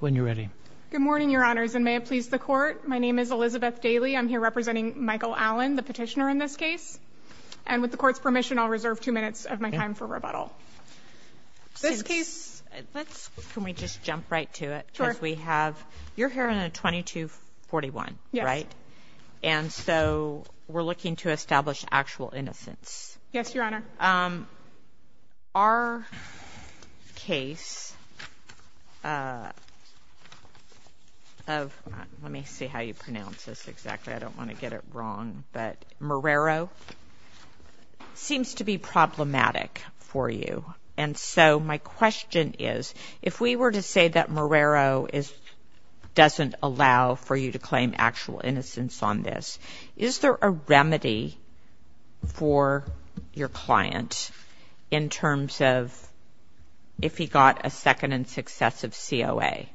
When you're ready, good morning, your honors and may it please the court. My name is Elizabeth Daly. I'm here representing Michael Allen the petitioner in this case and with the court's permission. I'll reserve 2 minutes of my time for rebuttal. This case, let's can we just jump right to it because we have you're here in a 2241 right and so we're looking to establish actual innocence. Yes, your honor. Your honor, our case of, let me see how you pronounce this exactly, I don't want to get it wrong, but Marrero seems to be problematic for you and so my question is if we were to say that Marrero doesn't allow for you to claim actual innocence on this, is there a remedy for your client in terms of if he got a second and successive COA?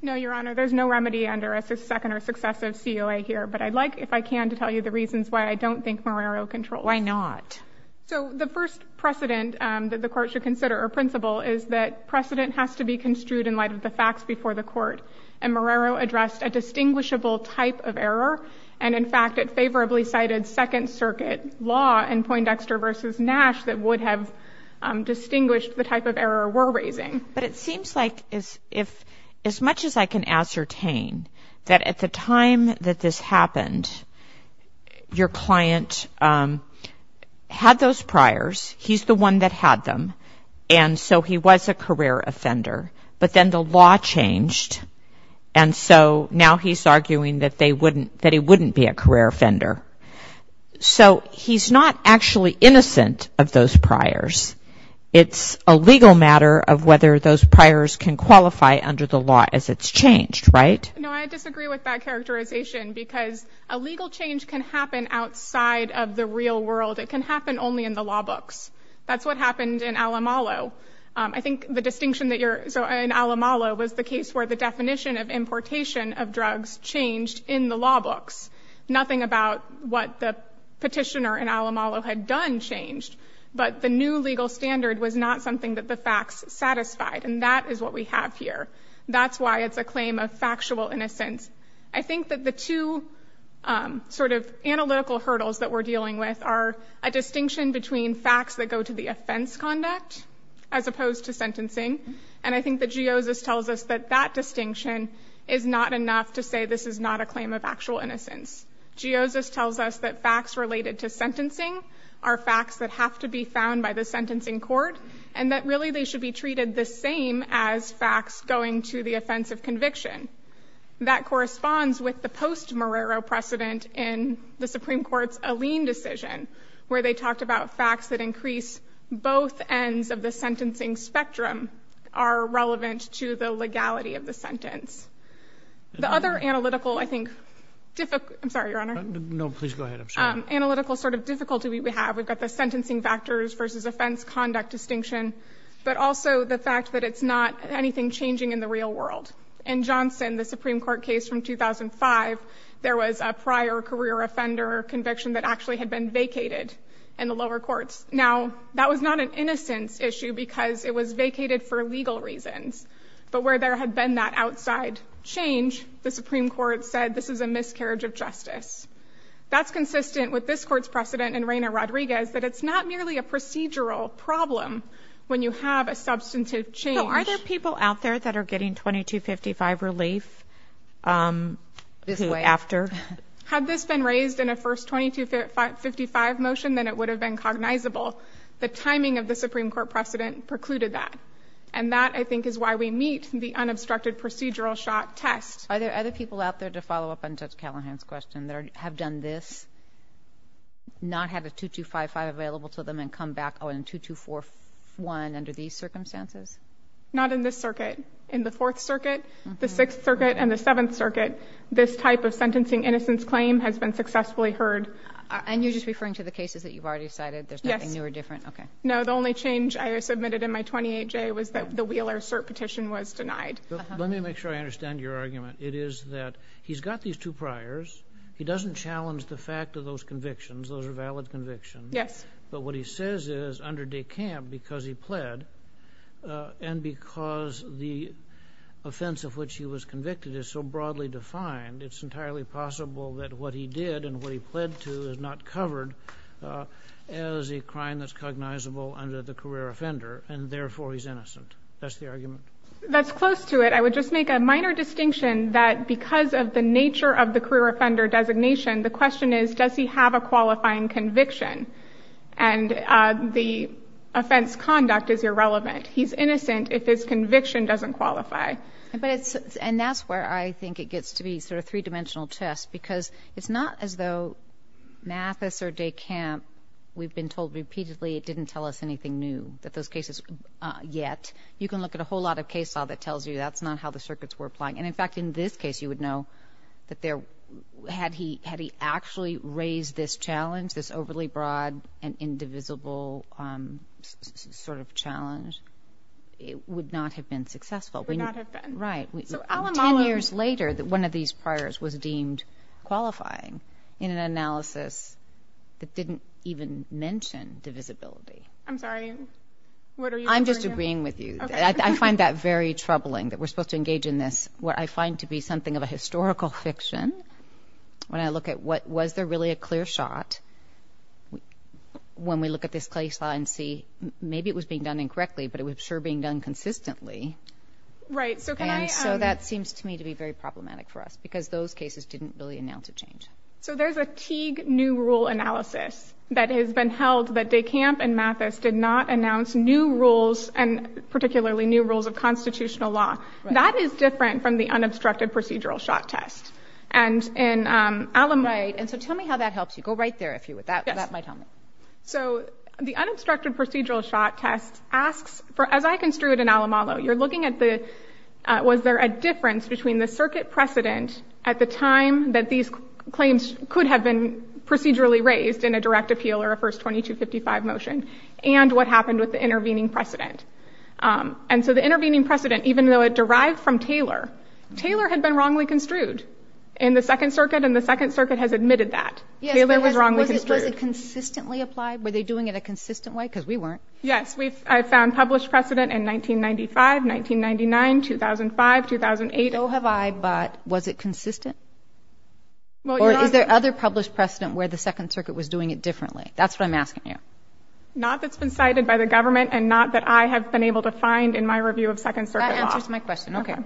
No, your honor, there's no remedy under a second or successive COA here, but I'd like if I can to tell you the reasons why I don't think Marrero controls. Why not? So the first precedent that the court should consider or principle is that precedent has to be construed in light of the facts before the court and Marrero addressed a distinguishable type of error and in fact it favorably cited Second Circuit law in Poindexter versus Nash that would have distinguished the type of error we're raising. But it seems like as much as I can ascertain that at the time that this happened, your client had those priors, he's the one that had them and so he was a career offender, but then the law changed and so now he's arguing that he wouldn't be a career offender. So he's not actually innocent of those priors, it's a legal matter of whether those priors can qualify under the law as it's changed, right? No, I disagree with that characterization because a legal change can happen outside of the real world. It can happen only in the law books. That's what happened in Alamalo. I think the distinction that you're, so in Alamalo was the case where the definition of importation of drugs changed in the law books. Nothing about what the petitioner in Alamalo had done changed, but the new legal standard was not something that the facts satisfied and that is what we have here. That's why it's a claim of factual innocence. I think that the two sort of analytical hurdles that we're dealing with are a distinction between facts that go to the offense conduct as opposed to sentencing and I think that Geosis tells us that that distinction is not enough to say this is not a claim of actual innocence. Geosis tells us that facts related to sentencing are facts that have to be found by the sentencing court and that really they should be treated the same as facts going to the offense of conviction. That corresponds with the post-Morero precedent in the Supreme Court's Alleen decision where they talked about facts that increase both ends of the sentencing spectrum are relevant to the legality of the sentence. The other analytical, I think, difficult, I'm sorry, Your Honor. No, please go ahead. I'm sorry. Analytical sort of difficulty we have, we've got the sentencing factors versus offense conduct distinction, but also the fact that it's not anything changing in the real world. In Johnson, the Supreme Court case from 2005, there was a prior career offender conviction that actually had been vacated in the lower courts. Now, that was not an innocence issue because it was vacated for legal reasons, but where there had been that outside change, the Supreme Court said this is a miscarriage of justice. That's consistent with this court's precedent in Reyna Rodriguez that it's not merely a procedural problem when you have a substantive change. Are there people out there that are getting 2255 relief after? Had this been raised in a first 2255 motion, then it would have been cognizable. The timing of the Supreme Court precedent precluded that, and that, I think, is why we meet the unobstructed procedural shot test. Are there other people out there, to follow up on Judge Callahan's question, that have done this, not had a 2255 available to them and come back, oh, and 2241 under these circumstances? Not in this circuit. In the Fourth Circuit, the Sixth Circuit, and the Seventh Circuit, this type of sentencing innocence claim has been successfully heard. And you're just referring to the cases that you've already cited? Yes. There's nothing new or different? Okay. No, the only change I submitted in my 28J was that the Wheeler cert petition was denied. Let me make sure I understand your argument. It is that he's got these two priors. He doesn't challenge the fact of those convictions. Those are valid convictions. Yes. But what he says is, under de camp, because he pled, and because the offense of which he was convicted is so broadly defined, it's entirely possible that what he did and what he pled to is not covered as a crime that's cognizable under the career offender, and therefore he's innocent. That's the argument? That's close to it. I would just make a minor distinction that because of the nature of the career offender designation, the question is, does he have a qualifying conviction? And the offense conduct is irrelevant. He's innocent if his conviction doesn't qualify. And that's where I think it gets to be sort of three-dimensional chess, because it's not as though Mathis or de camp, we've been told repeatedly it didn't tell us anything new, that those cases yet. You can look at a whole lot of case law that tells you that's not how the circuits were applying. And in fact, in this case, you would know that had he actually raised this challenge, this overly broad and indivisible sort of challenge, it would not have been successful. Ten years later, one of these priors was deemed qualifying in an analysis that didn't even mention divisibility. I'm sorry, what are you referring to? And so that seems to me to be very problematic for us, because those cases didn't really announce a change. So there's a Teague new rule analysis that has been held that de camp and Mathis did not announce new rules, and particularly new rules of constitutional law. That is different from the unobstructed procedural shot test. And in Alamalo... Right. And so tell me how that helps you. Go right there, if you would. That might help me. So the unobstructed procedural shot test asks, as I construed in Alamalo, you're looking at was there a difference between the circuit precedent at the time that these claims could have been procedurally raised in a direct appeal or a first 2255 motion, and what happened with the intervening precedent. And so the intervening precedent, even though it derived from Taylor, Taylor had been wrongly construed in the Second Circuit, and the Second Circuit has admitted that. Was it consistently applied? Were they doing it a consistent way? Because we weren't. Yes, I found published precedent in 1995, 1999, 2005, 2008. So have I, but was it consistent? Or is there other published precedent where the Second Circuit was doing it differently? That's what I'm asking you. Not that's been cited by the government and not that I have been able to find in my review of Second Circuit law. That answers my question. Okay.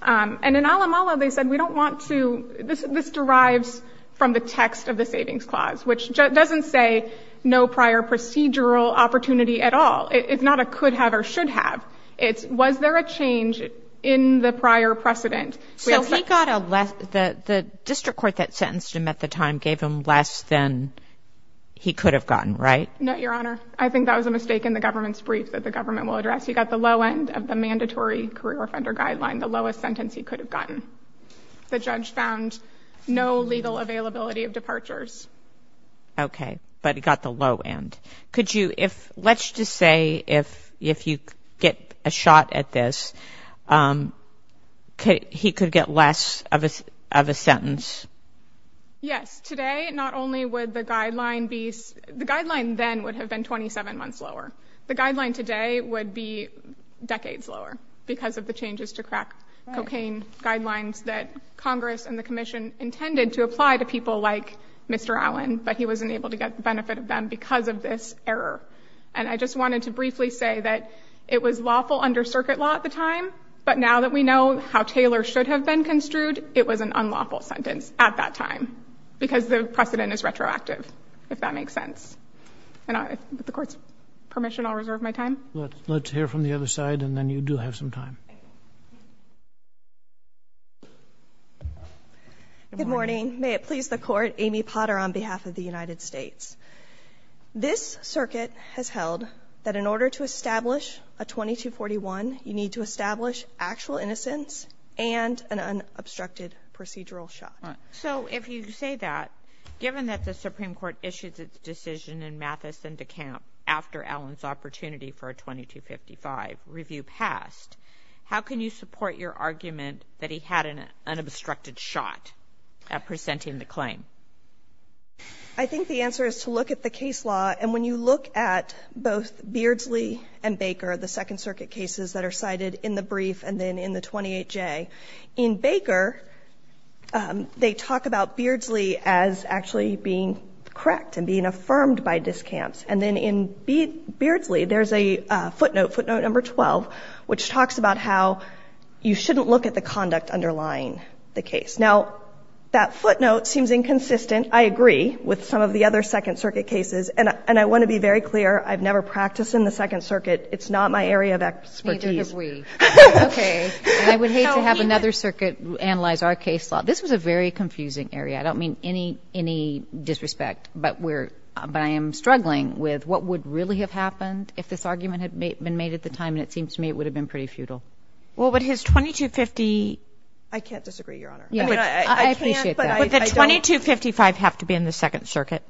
And in Alamalo, they said we don't want to this. This derives from the text of the Savings Clause, which doesn't say no prior procedural opportunity at all. It's not a could have or should have. It's was there a change in the prior precedent? So he got a left. The district court that sentenced him at the time gave him less than he could have gotten. Right. No, Your Honor. I think that was a mistake in the government's brief that the government will address. He got the low end of the mandatory career offender guideline, the lowest sentence he could have gotten. The judge found no legal availability of departures. Okay, but he got the low end. Could you if let's just say if if you get a shot at this, he could get less of a of a sentence. Yes. Today, not only would the guideline be the guideline, then would have been 27 months lower. The guideline today would be decades lower because of the changes to crack cocaine guidelines that Congress and the commission intended to apply to people like Mr. Allen. But he wasn't able to get the benefit of them because of this error. And I just wanted to briefly say that it was lawful under circuit law at the time. But now that we know how Taylor should have been construed, it was an unlawful sentence at that time because the precedent is retroactive, if that makes sense. And with the court's permission, I'll reserve my time. Let's hear from the other side. And then you do have some time. Good morning. May it please the court. Amy Potter, on behalf of the United States. This circuit has held that in order to establish a 2241, you need to establish actual innocence and an unobstructed procedural shot. So if you say that, given that the Supreme Court issued its decision in Mathis and DeKalb after Allen's opportunity for a 2255 review passed, how can you support your argument that he had an unobstructed shot at presenting the claim? I think the answer is to look at the case law. And when you look at both Beardsley and Baker, the Second Circuit cases that are cited in the brief and then in the 28J, in Baker, they talk about Beardsley as actually being correct and being affirmed by discounts. And then in Beardsley, there's a footnote, footnote number 12, which talks about how you shouldn't look at the conduct underlying the case. Now, that footnote seems inconsistent. I agree with some of the other Second Circuit cases. And I want to be very clear, I've never practiced in the Second Circuit. It's not my area of expertise. Neither have we. Okay. I would hate to have another circuit analyze our case law. This was a very confusing area. I don't mean any disrespect, but I am struggling with what would really have happened if this argument had been made at the time. And it seems to me it would have been pretty futile. Well, but his 2250. I can't disagree, Your Honor. I appreciate that. Would the 2255 have to be in the Second Circuit?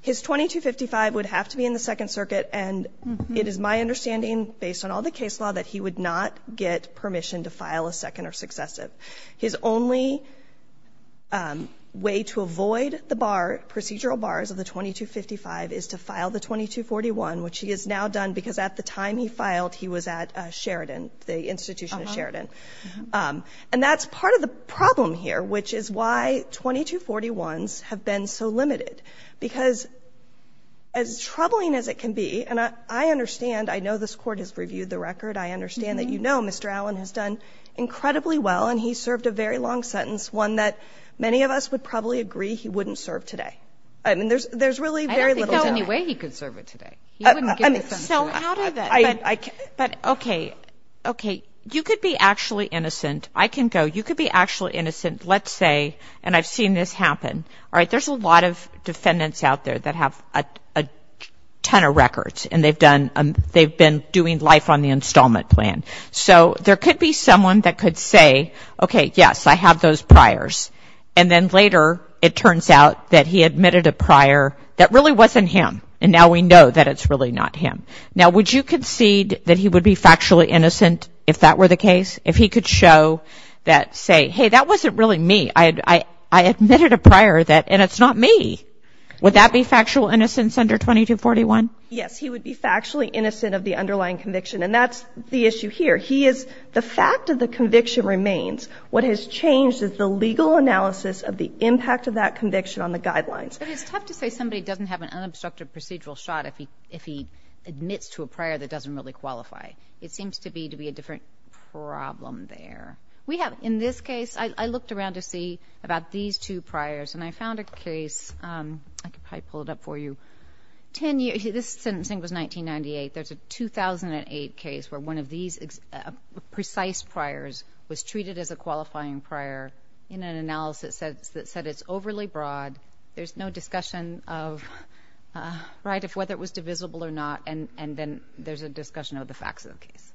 His 2255 would have to be in the Second Circuit, and it is my understanding based on all the case law that he would not get permission to file a second or successive. His only way to avoid the procedural bars of the 2255 is to file the 2241, which he has now done because at the time he filed, he was at Sheridan, the institution of Sheridan. And that's part of the problem here, which is why 2241s have been so limited, because as troubling as it can be, and I understand, I know this Court has reviewed the record, I understand that you know Mr. Allen has done incredibly well, and he served a very long sentence, one that many of us would probably agree he wouldn't serve today. I mean, there's really very little doubt. I don't think there's any way he could serve it today. He wouldn't give it to them today. But okay, okay, you could be actually innocent. I can go, you could be actually innocent, let's say, and I've seen this happen. All right, there's a lot of defendants out there that have a ton of records, and they've been doing life on the installment plan. So there could be someone that could say, okay, yes, I have those priors, and then later it turns out that he admitted a prior that really wasn't him, and now we know that it's really not him. Now, would you concede that he would be factually innocent if that were the case? If he could show that, say, hey, that wasn't really me. I admitted a prior that, and it's not me. Would that be factual innocence under 2241? Yes, he would be factually innocent of the underlying conviction, and that's the issue here. He is, the fact of the conviction remains. What has changed is the legal analysis of the impact of that conviction on the guidelines. It's tough to say somebody doesn't have an unobstructed procedural shot if he admits to a prior that doesn't really qualify. It seems to be a different problem there. In this case, I looked around to see about these two priors, and I found a case. I could probably pull it up for you. This sentencing was 1998. There's a 2008 case where one of these precise priors was treated as a qualifying prior in an analysis that said it's overly broad. There's no discussion of whether it was divisible or not, and then there's a discussion of the facts of the case,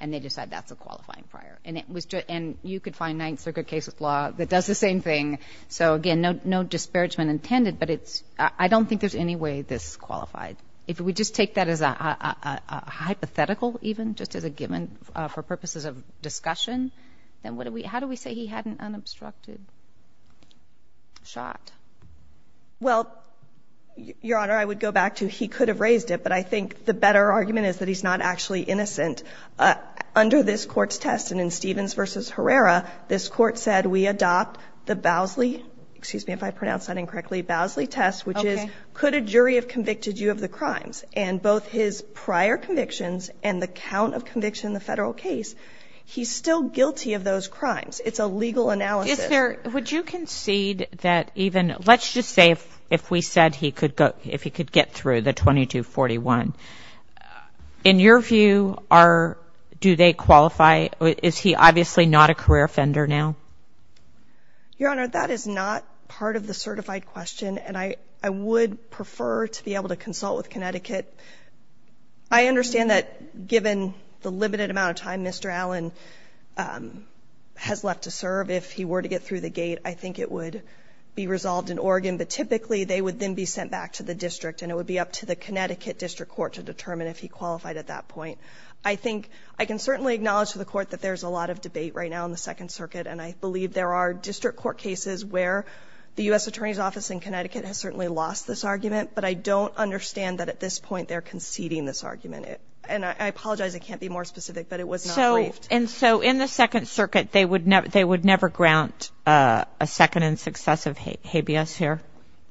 and they decide that's a qualifying prior. And you could find ninth circuit cases law that does the same thing. So, again, no disparagement intended, but I don't think there's any way this qualified. If we just take that as a hypothetical even, just as a given for purposes of discussion, then how do we say he had an unobstructed shot? Well, Your Honor, I would go back to he could have raised it, but I think the better argument is that he's not actually innocent. Under this court's test, and in Stevens v. Herrera, this court said, we adopt the Bowsley test, which is could a jury have convicted you of the crimes? And both his prior convictions and the count of conviction in the federal case, he's still guilty of those crimes. It's a legal analysis. Is there – would you concede that even – let's just say if we said he could go – if he could get through the 2241, in your view, are – do they qualify? Is he obviously not a career offender now? Your Honor, that is not part of the certified question, and I would prefer to be able to consult with Connecticut. I understand that given the limited amount of time Mr. Allen has left to serve, if he were to get through the gate, I think it would be resolved in Oregon, but typically they would then be sent back to the district, and it would be up to the Connecticut district court to determine if he qualified at that point. I think – I can certainly acknowledge to the court that there's a lot of debate right now in the Second Circuit, and I believe there are district court cases where the U.S. Attorney's Office in Connecticut has certainly lost this argument, but I don't understand that at this point they're conceding this argument. And I apologize, it can't be more specific, but it was not briefed. And so in the Second Circuit, they would never grant a second and successive habeas here?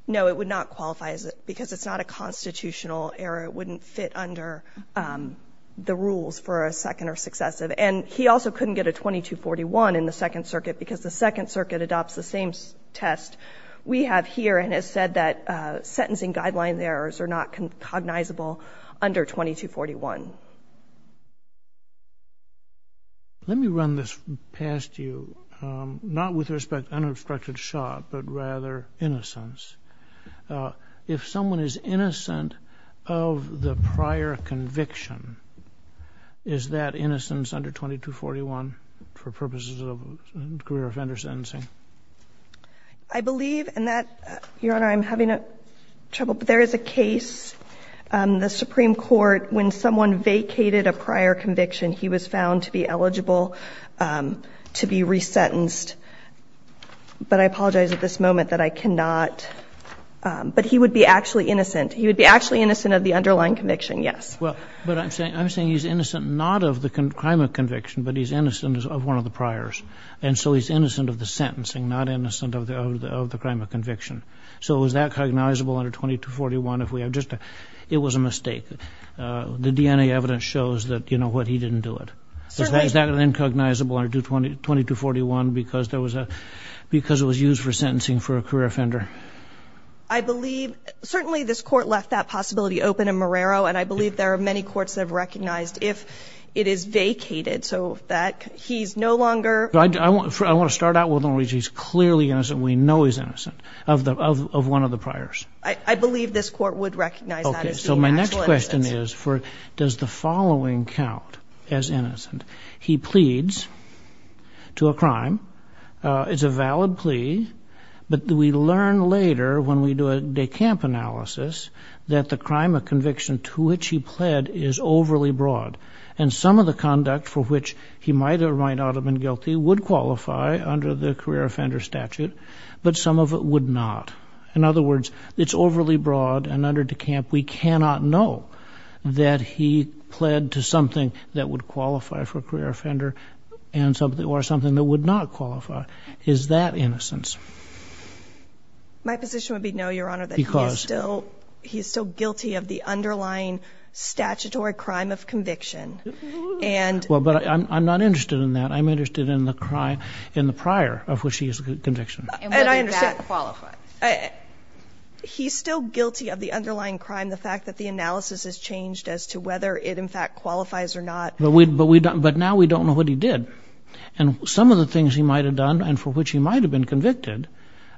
No, it would not qualify because it's not a constitutional error. It wouldn't fit under the rules for a second or successive. And he also couldn't get a 2241 in the Second Circuit because the Second Circuit adopts the same test we have here and has said that sentencing guideline errors are not cognizable under 2241. Let me run this past you, not with respect to unobstructed shot, but rather innocence. If someone is innocent of the prior conviction, is that innocence under 2241 for purposes of career offender sentencing? I believe in that, Your Honor, I'm having trouble. There is a case, the Supreme Court, when someone vacated a prior conviction, he was found to be eligible to be resentenced. But I apologize at this moment that I cannot. But he would be actually innocent. He would be actually innocent of the underlying conviction, yes. Well, but I'm saying he's innocent not of the crime of conviction, but he's innocent of one of the priors. And so he's innocent of the sentencing, not innocent of the crime of conviction. So is that cognizable under 2241? If we have just a, it was a mistake. The DNA evidence shows that, you know what, he didn't do it. Is that an incognizable under 2241 because there was a, because it was used for sentencing for a career offender? I believe, certainly this Court left that possibility open in Marrero, and I believe there are many courts that have recognized if it is vacated so that he's no longer. I want to start out with the reason he's clearly innocent. We know he's innocent of one of the priors. I believe this Court would recognize that as being actually innocent. So my next question is, does the following count as innocent? He pleads to a crime. It's a valid plea. But we learn later when we do a de camp analysis that the crime of conviction to which he pled is overly broad. And some of the conduct for which he might or might not have been guilty would qualify under the career offender statute, but some of it would not. In other words, it's overly broad, and under de camp, we cannot know that he pled to something that would qualify for a career offender or something that would not qualify. Is that innocence? My position would be no, Your Honor, that he is still guilty of the underlying statutory crime of conviction. But I'm not interested in that. I'm interested in the prior of which he is a conviction. And whether that qualifies. He's still guilty of the underlying crime, the fact that the analysis has changed as to whether it in fact qualifies or not. But now we don't know what he did. And some of the things he might have done and for which he might have been convicted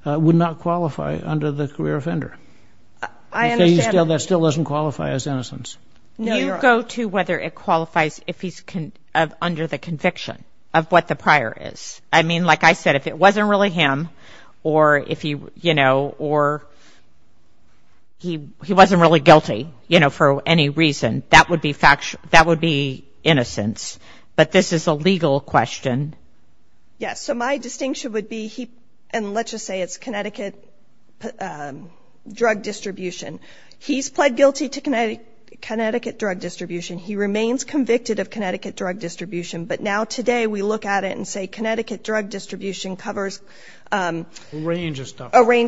would not qualify under the career offender. That still doesn't qualify as innocence. Do you go to whether it qualifies if he's under the conviction of what the prior is? I mean, like I said, if it wasn't really him or if he, you know, or he wasn't really guilty, you know, for any reason, that would be innocence. But this is a legal question. Yes, so my distinction would be he, and let's just say it's Connecticut drug distribution. He's pled guilty to Connecticut drug distribution. He remains convicted of Connecticut drug distribution. But now today we look at it and say Connecticut drug distribution covers a range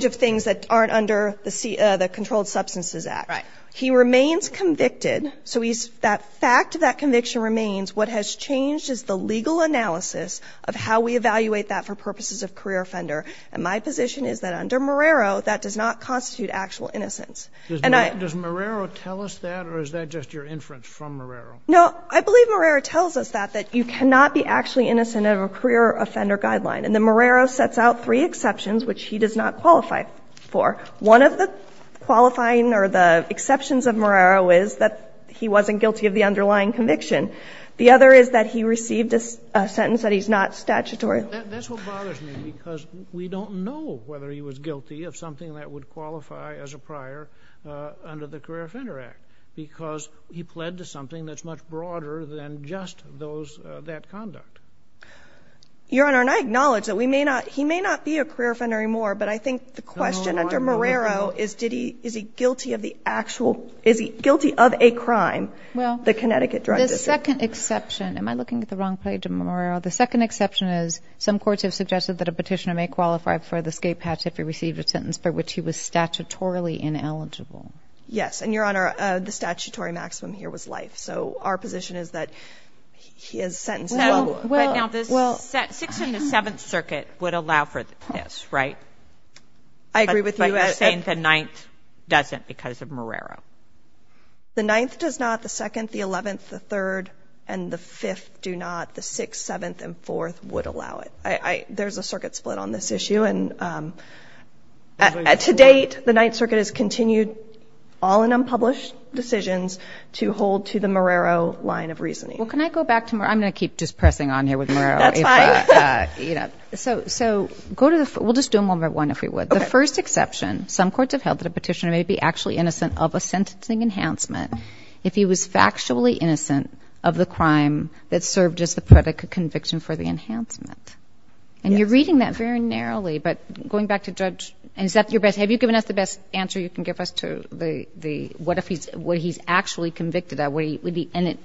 of things that aren't under the Controlled Substances Act. He remains convicted. So that fact of that conviction remains. What has changed is the legal analysis of how we evaluate that for purposes of career offender. And my position is that under Marrero, that does not constitute actual innocence. Does Marrero tell us that or is that just your inference from Marrero? No, I believe Marrero tells us that, that you cannot be actually innocent of a career offender guideline. And then Marrero sets out three exceptions, which he does not qualify for. One of the qualifying or the exceptions of Marrero is that he wasn't guilty of the underlying conviction. The other is that he received a sentence that he's not statutory. That's what bothers me because we don't know whether he was guilty of something that would qualify as a prior under the Career Offender Act because he pled to something that's much broader than just those, that conduct. Your Honor, and I acknowledge that we may not, he may not be a career offender anymore, but I think the question under Marrero is did he, is he guilty of the actual, is he guilty of a crime? The Connecticut Drug District. Well, the second exception, am I looking at the wrong page of Marrero? The second exception is some courts have suggested that a petitioner may qualify for the skate patch if he received a sentence for which he was statutorily ineligible. Yes, and Your Honor, the statutory maximum here was life. So our position is that he is sentenced. Well, but now this 16th and 7th Circuit would allow for this, right? I agree with you. But you're saying the 9th doesn't because of Marrero. The 9th does not, the 2nd, the 11th, the 3rd, and the 5th do not, the 6th, 7th, and 4th would allow it. There's a circuit split on this issue. And to date, the 9th Circuit has continued all in unpublished decisions to hold to the Marrero line of reasoning. Well, can I go back to Marrero? I'm going to keep just pressing on here with Marrero. That's fine. So go to the, we'll just do them one by one if we would. Okay. The first exception, some courts have held that a petitioner may be actually innocent of a sentencing enhancement if he was factually innocent of the crime that served as the predicate conviction for the enhancement. And you're reading that very narrowly, but going back to Judge, is that your best, have you given us the best answer you can give us to the, what if he's, what he's actually convicted of? And this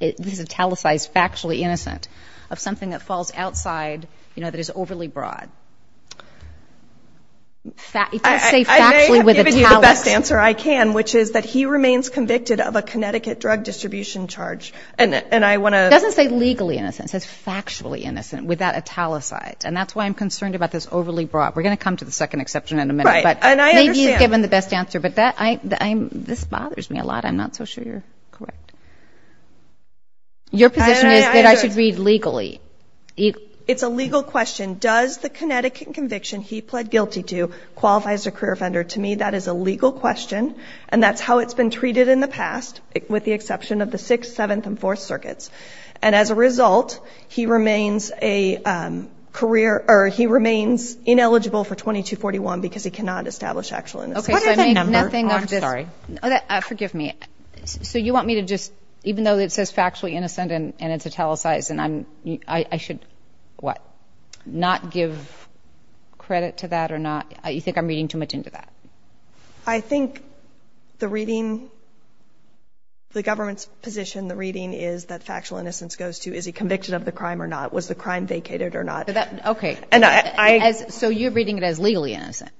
is italicized factually innocent of something that falls outside, you know, that is overly broad. It doesn't say factually with italicized. I may have given you the best answer I can, which is that he remains convicted of a Connecticut drug distribution charge. And I want to. It doesn't say legally innocent. It says factually innocent with that italicized. And that's why I'm concerned about this overly broad. We're going to come to the second exception in a minute. Right. And I understand. Maybe you've given the best answer, but this bothers me a lot. I'm not so sure you're correct. Your position is that I should read legally. It's a legal question. Does the Connecticut conviction he pled guilty to qualifies a career offender? To me, that is a legal question. And that's how it's been treated in the past, with the exception of the sixth, seventh, and fourth circuits. And as a result, he remains a career, or he remains ineligible for 2241 because he cannot establish actual innocence. Okay. So I make nothing of this. I'm sorry. Forgive me. So you want me to just, even though it says factually innocent and it's italicized, I should not give credit to that or not? You think I'm reading too much into that? I think the reading, the government's position, the reading is that factual innocence goes to is he convicted of the crime or not, was the crime vacated or not. Okay. So you're reading it as legally innocent.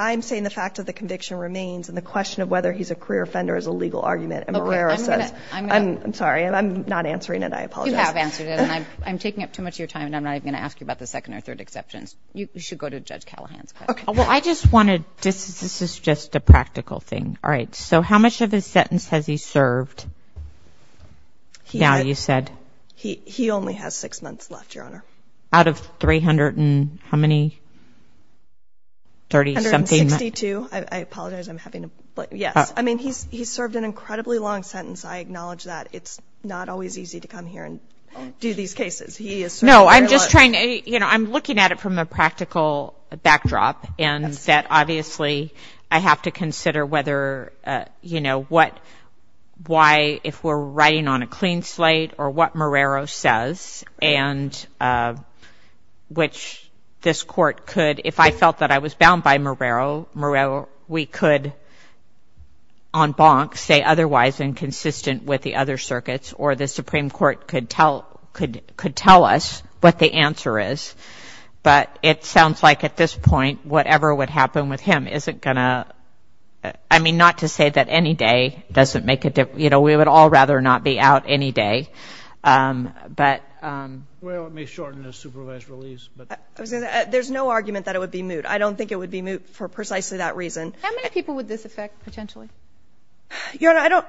I'm saying the fact that the conviction remains and the question of whether he's a career offender is a legal argument. And Marrero says, I'm sorry, I'm not answering it. I apologize. You have answered it. And I'm taking up too much of your time, and I'm not even going to ask you about the second or third exceptions. You should go to Judge Callahan's question. Okay. Well, I just wanted, this is just a practical thing. All right. So how much of his sentence has he served? Now you said. He only has six months left, Your Honor. Out of 300 and how many, 30 something? 162. I apologize. I'm having a, yes. I mean, he's served an incredibly long sentence. I acknowledge that. It's not always easy to come here and do these cases. No, I'm just trying to, you know, I'm looking at it from a practical backdrop and that obviously I have to consider whether, you know, why if we're writing on a clean slate or what Marrero says, and which this court could, if I felt that I was bound by Marrero, we could on bonk say otherwise and consistent with the other circuits, or the Supreme Court could tell us what the answer is. But it sounds like at this point whatever would happen with him isn't going to, I mean, not to say that any day doesn't make a difference. You know, we would all rather not be out any day. Well, it may shorten his supervised release. There's no argument that it would be moot. I don't think it would be moot for precisely that reason. How many people would this affect potentially? Your Honor, I don't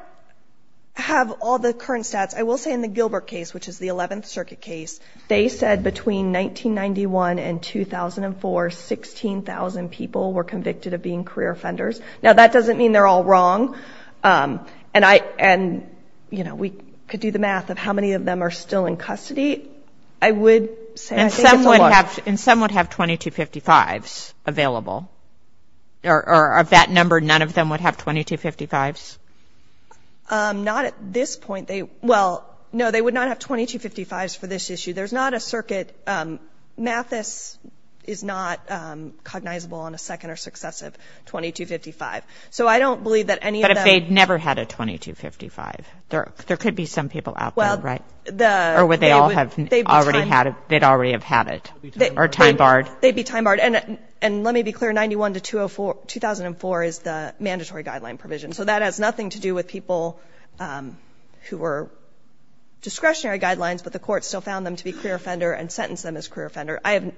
have all the current stats. I will say in the Gilbert case, which is the 11th Circuit case, they said between 1991 and 2004, 16,000 people were convicted of being career offenders. Now, that doesn't mean they're all wrong. And, you know, we could do the math of how many of them are still in custody. I would say I think it's a lot. And some would have 2255s available, or of that number none of them would have 2255s? Not at this point. Well, no, they would not have 2255s for this issue. There's not a circuit. Mathis is not cognizable on a second or successive 2255. So I don't believe that any of them. But if they'd never had a 2255, there could be some people out there, right? Or would they all have already had it or time barred? They'd be time barred. And let me be clear, 91 to 2004 is the mandatory guideline provision. So that has nothing to do with people who were discretionary guidelines, but the court still found them to be career offender and sentenced them as career offender. I have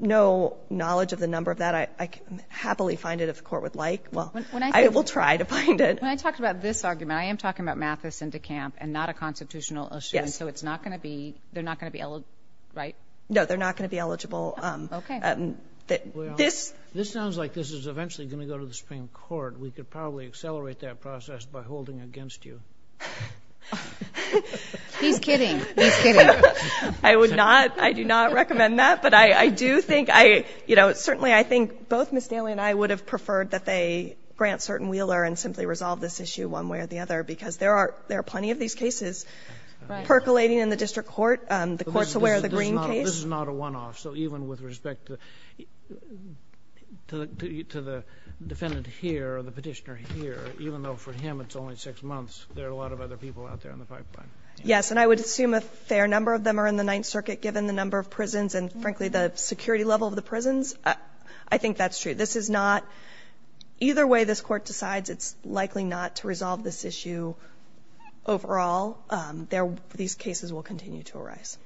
no knowledge of the number of that. I can happily find it if the court would like. Well, I will try to find it. When I talk about this argument, I am talking about Mathis and DeCamp and not a constitutional issue. Yes. So it's not going to be they're not going to be eligible, right? No, they're not going to be eligible. Okay. This sounds like this is eventually going to go to the Supreme Court. We could probably accelerate that process by holding against you. He's kidding. He's kidding. I would not. I do not recommend that. But I do think I, you know, certainly I think both Ms. Daly and I would have preferred that they grant certain Wheeler and simply resolve this issue one way or the other because there are plenty of these cases percolating in the district court, the courts aware of the Green case. This is not a one-off. So even with respect to the defendant here or the petitioner here, even though for him it's only six months, there are a lot of other people out there on the pipeline. Yes. And I would assume a fair number of them are in the Ninth Circuit given the number of prisons and, frankly, the security level of the prisons. I think that's true. This is not either way this Court decides it's likely not to resolve this issue overall. These cases will continue to arise.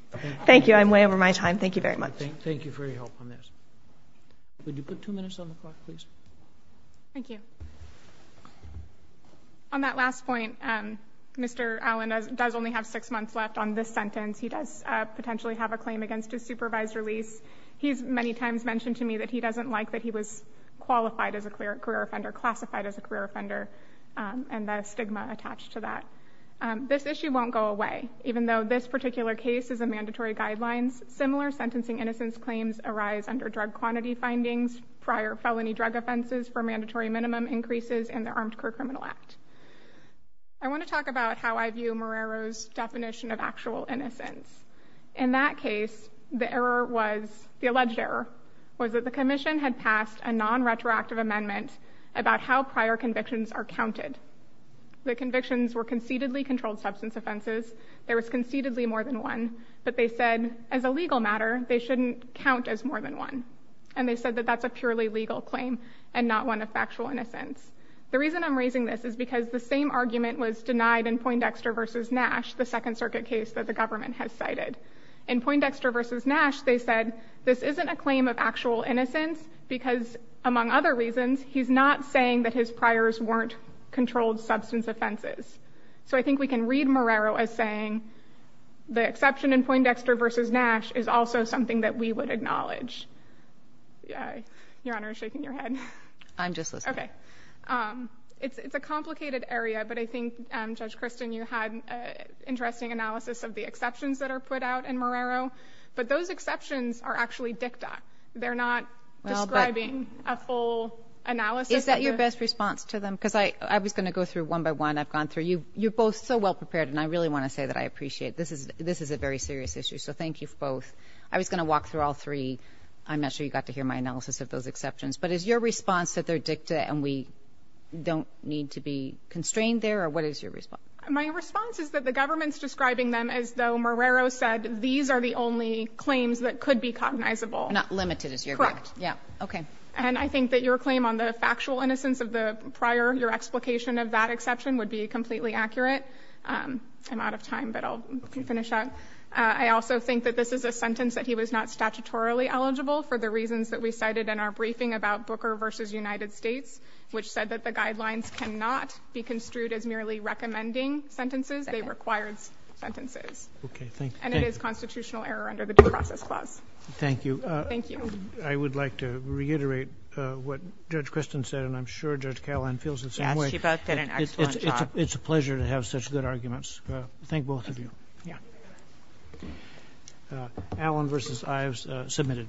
Thank you. I'm way over my time. Thank you very much. Thank you for your help on this. Would you put two minutes on the clock, please? Thank you. On that last point, Mr. Allen does only have six months left on this sentence. He does potentially have a claim against his supervised release. He's many times mentioned to me that he doesn't like that he was qualified as a career offender, classified as a career offender, and the stigma attached to that. This issue won't go away. Even though this particular case is a mandatory guidelines, similar sentencing innocence claims arise under drug quantity findings, prior felony drug offenses for mandatory minimum increases in the Armed Career Criminal Act. I want to talk about how I view Marrero's definition of actual innocence. In that case, the alleged error was that the commission had passed a non-retroactive amendment about how prior convictions are counted. The convictions were conceitedly controlled substance offenses. There was conceitedly more than one. But they said, as a legal matter, they shouldn't count as more than one. And they said that that's a purely legal claim and not one of factual innocence. The reason I'm raising this is because the same argument was denied in Poindexter v. Nash, the Second Circuit case that the government has cited. In Poindexter v. Nash, they said this isn't a claim of actual innocence because, among other reasons, he's not saying that his priors weren't controlled substance offenses. So I think we can read Marrero as saying the exception in Poindexter v. Nash is also something that we would acknowledge. Your Honor is shaking your head. I'm just listening. Okay. It's a complicated area, but I think, Judge Kristen, you had an interesting analysis of the exceptions that are put out in Marrero. But those exceptions are actually dicta. They're not describing a full analysis. Is that your best response to them? Because I was going to go through one by one. I've gone through. You're both so well prepared, and I really want to say that I appreciate it. This is a very serious issue, so thank you both. I was going to walk through all three. I'm not sure you got to hear my analysis of those exceptions. But is your response that they're dicta and we don't need to be constrained there? Or what is your response? My response is that the government's describing them as though Marrero said these are the only claims that could be cognizable. Not limited as you're correct. Correct. Yeah. Okay. And I think that your claim on the factual innocence of the prior, your explication of that exception would be completely accurate. I'm out of time, but I'll finish up. I also think that this is a sentence that he was not statutorily eligible for the reasons that we cited in our briefing about Booker versus United States, which said that the guidelines cannot be construed as merely recommending sentences. They required sentences. Okay, thank you. And it is constitutional error under the due process clause. Thank you. Thank you. I would like to reiterate what Judge Kristen said, and I'm sure Judge Callahan feels the same way. She both did an excellent job. It's a pleasure to have such good arguments. Thank both of you. Yeah. Allen versus Ives submitted.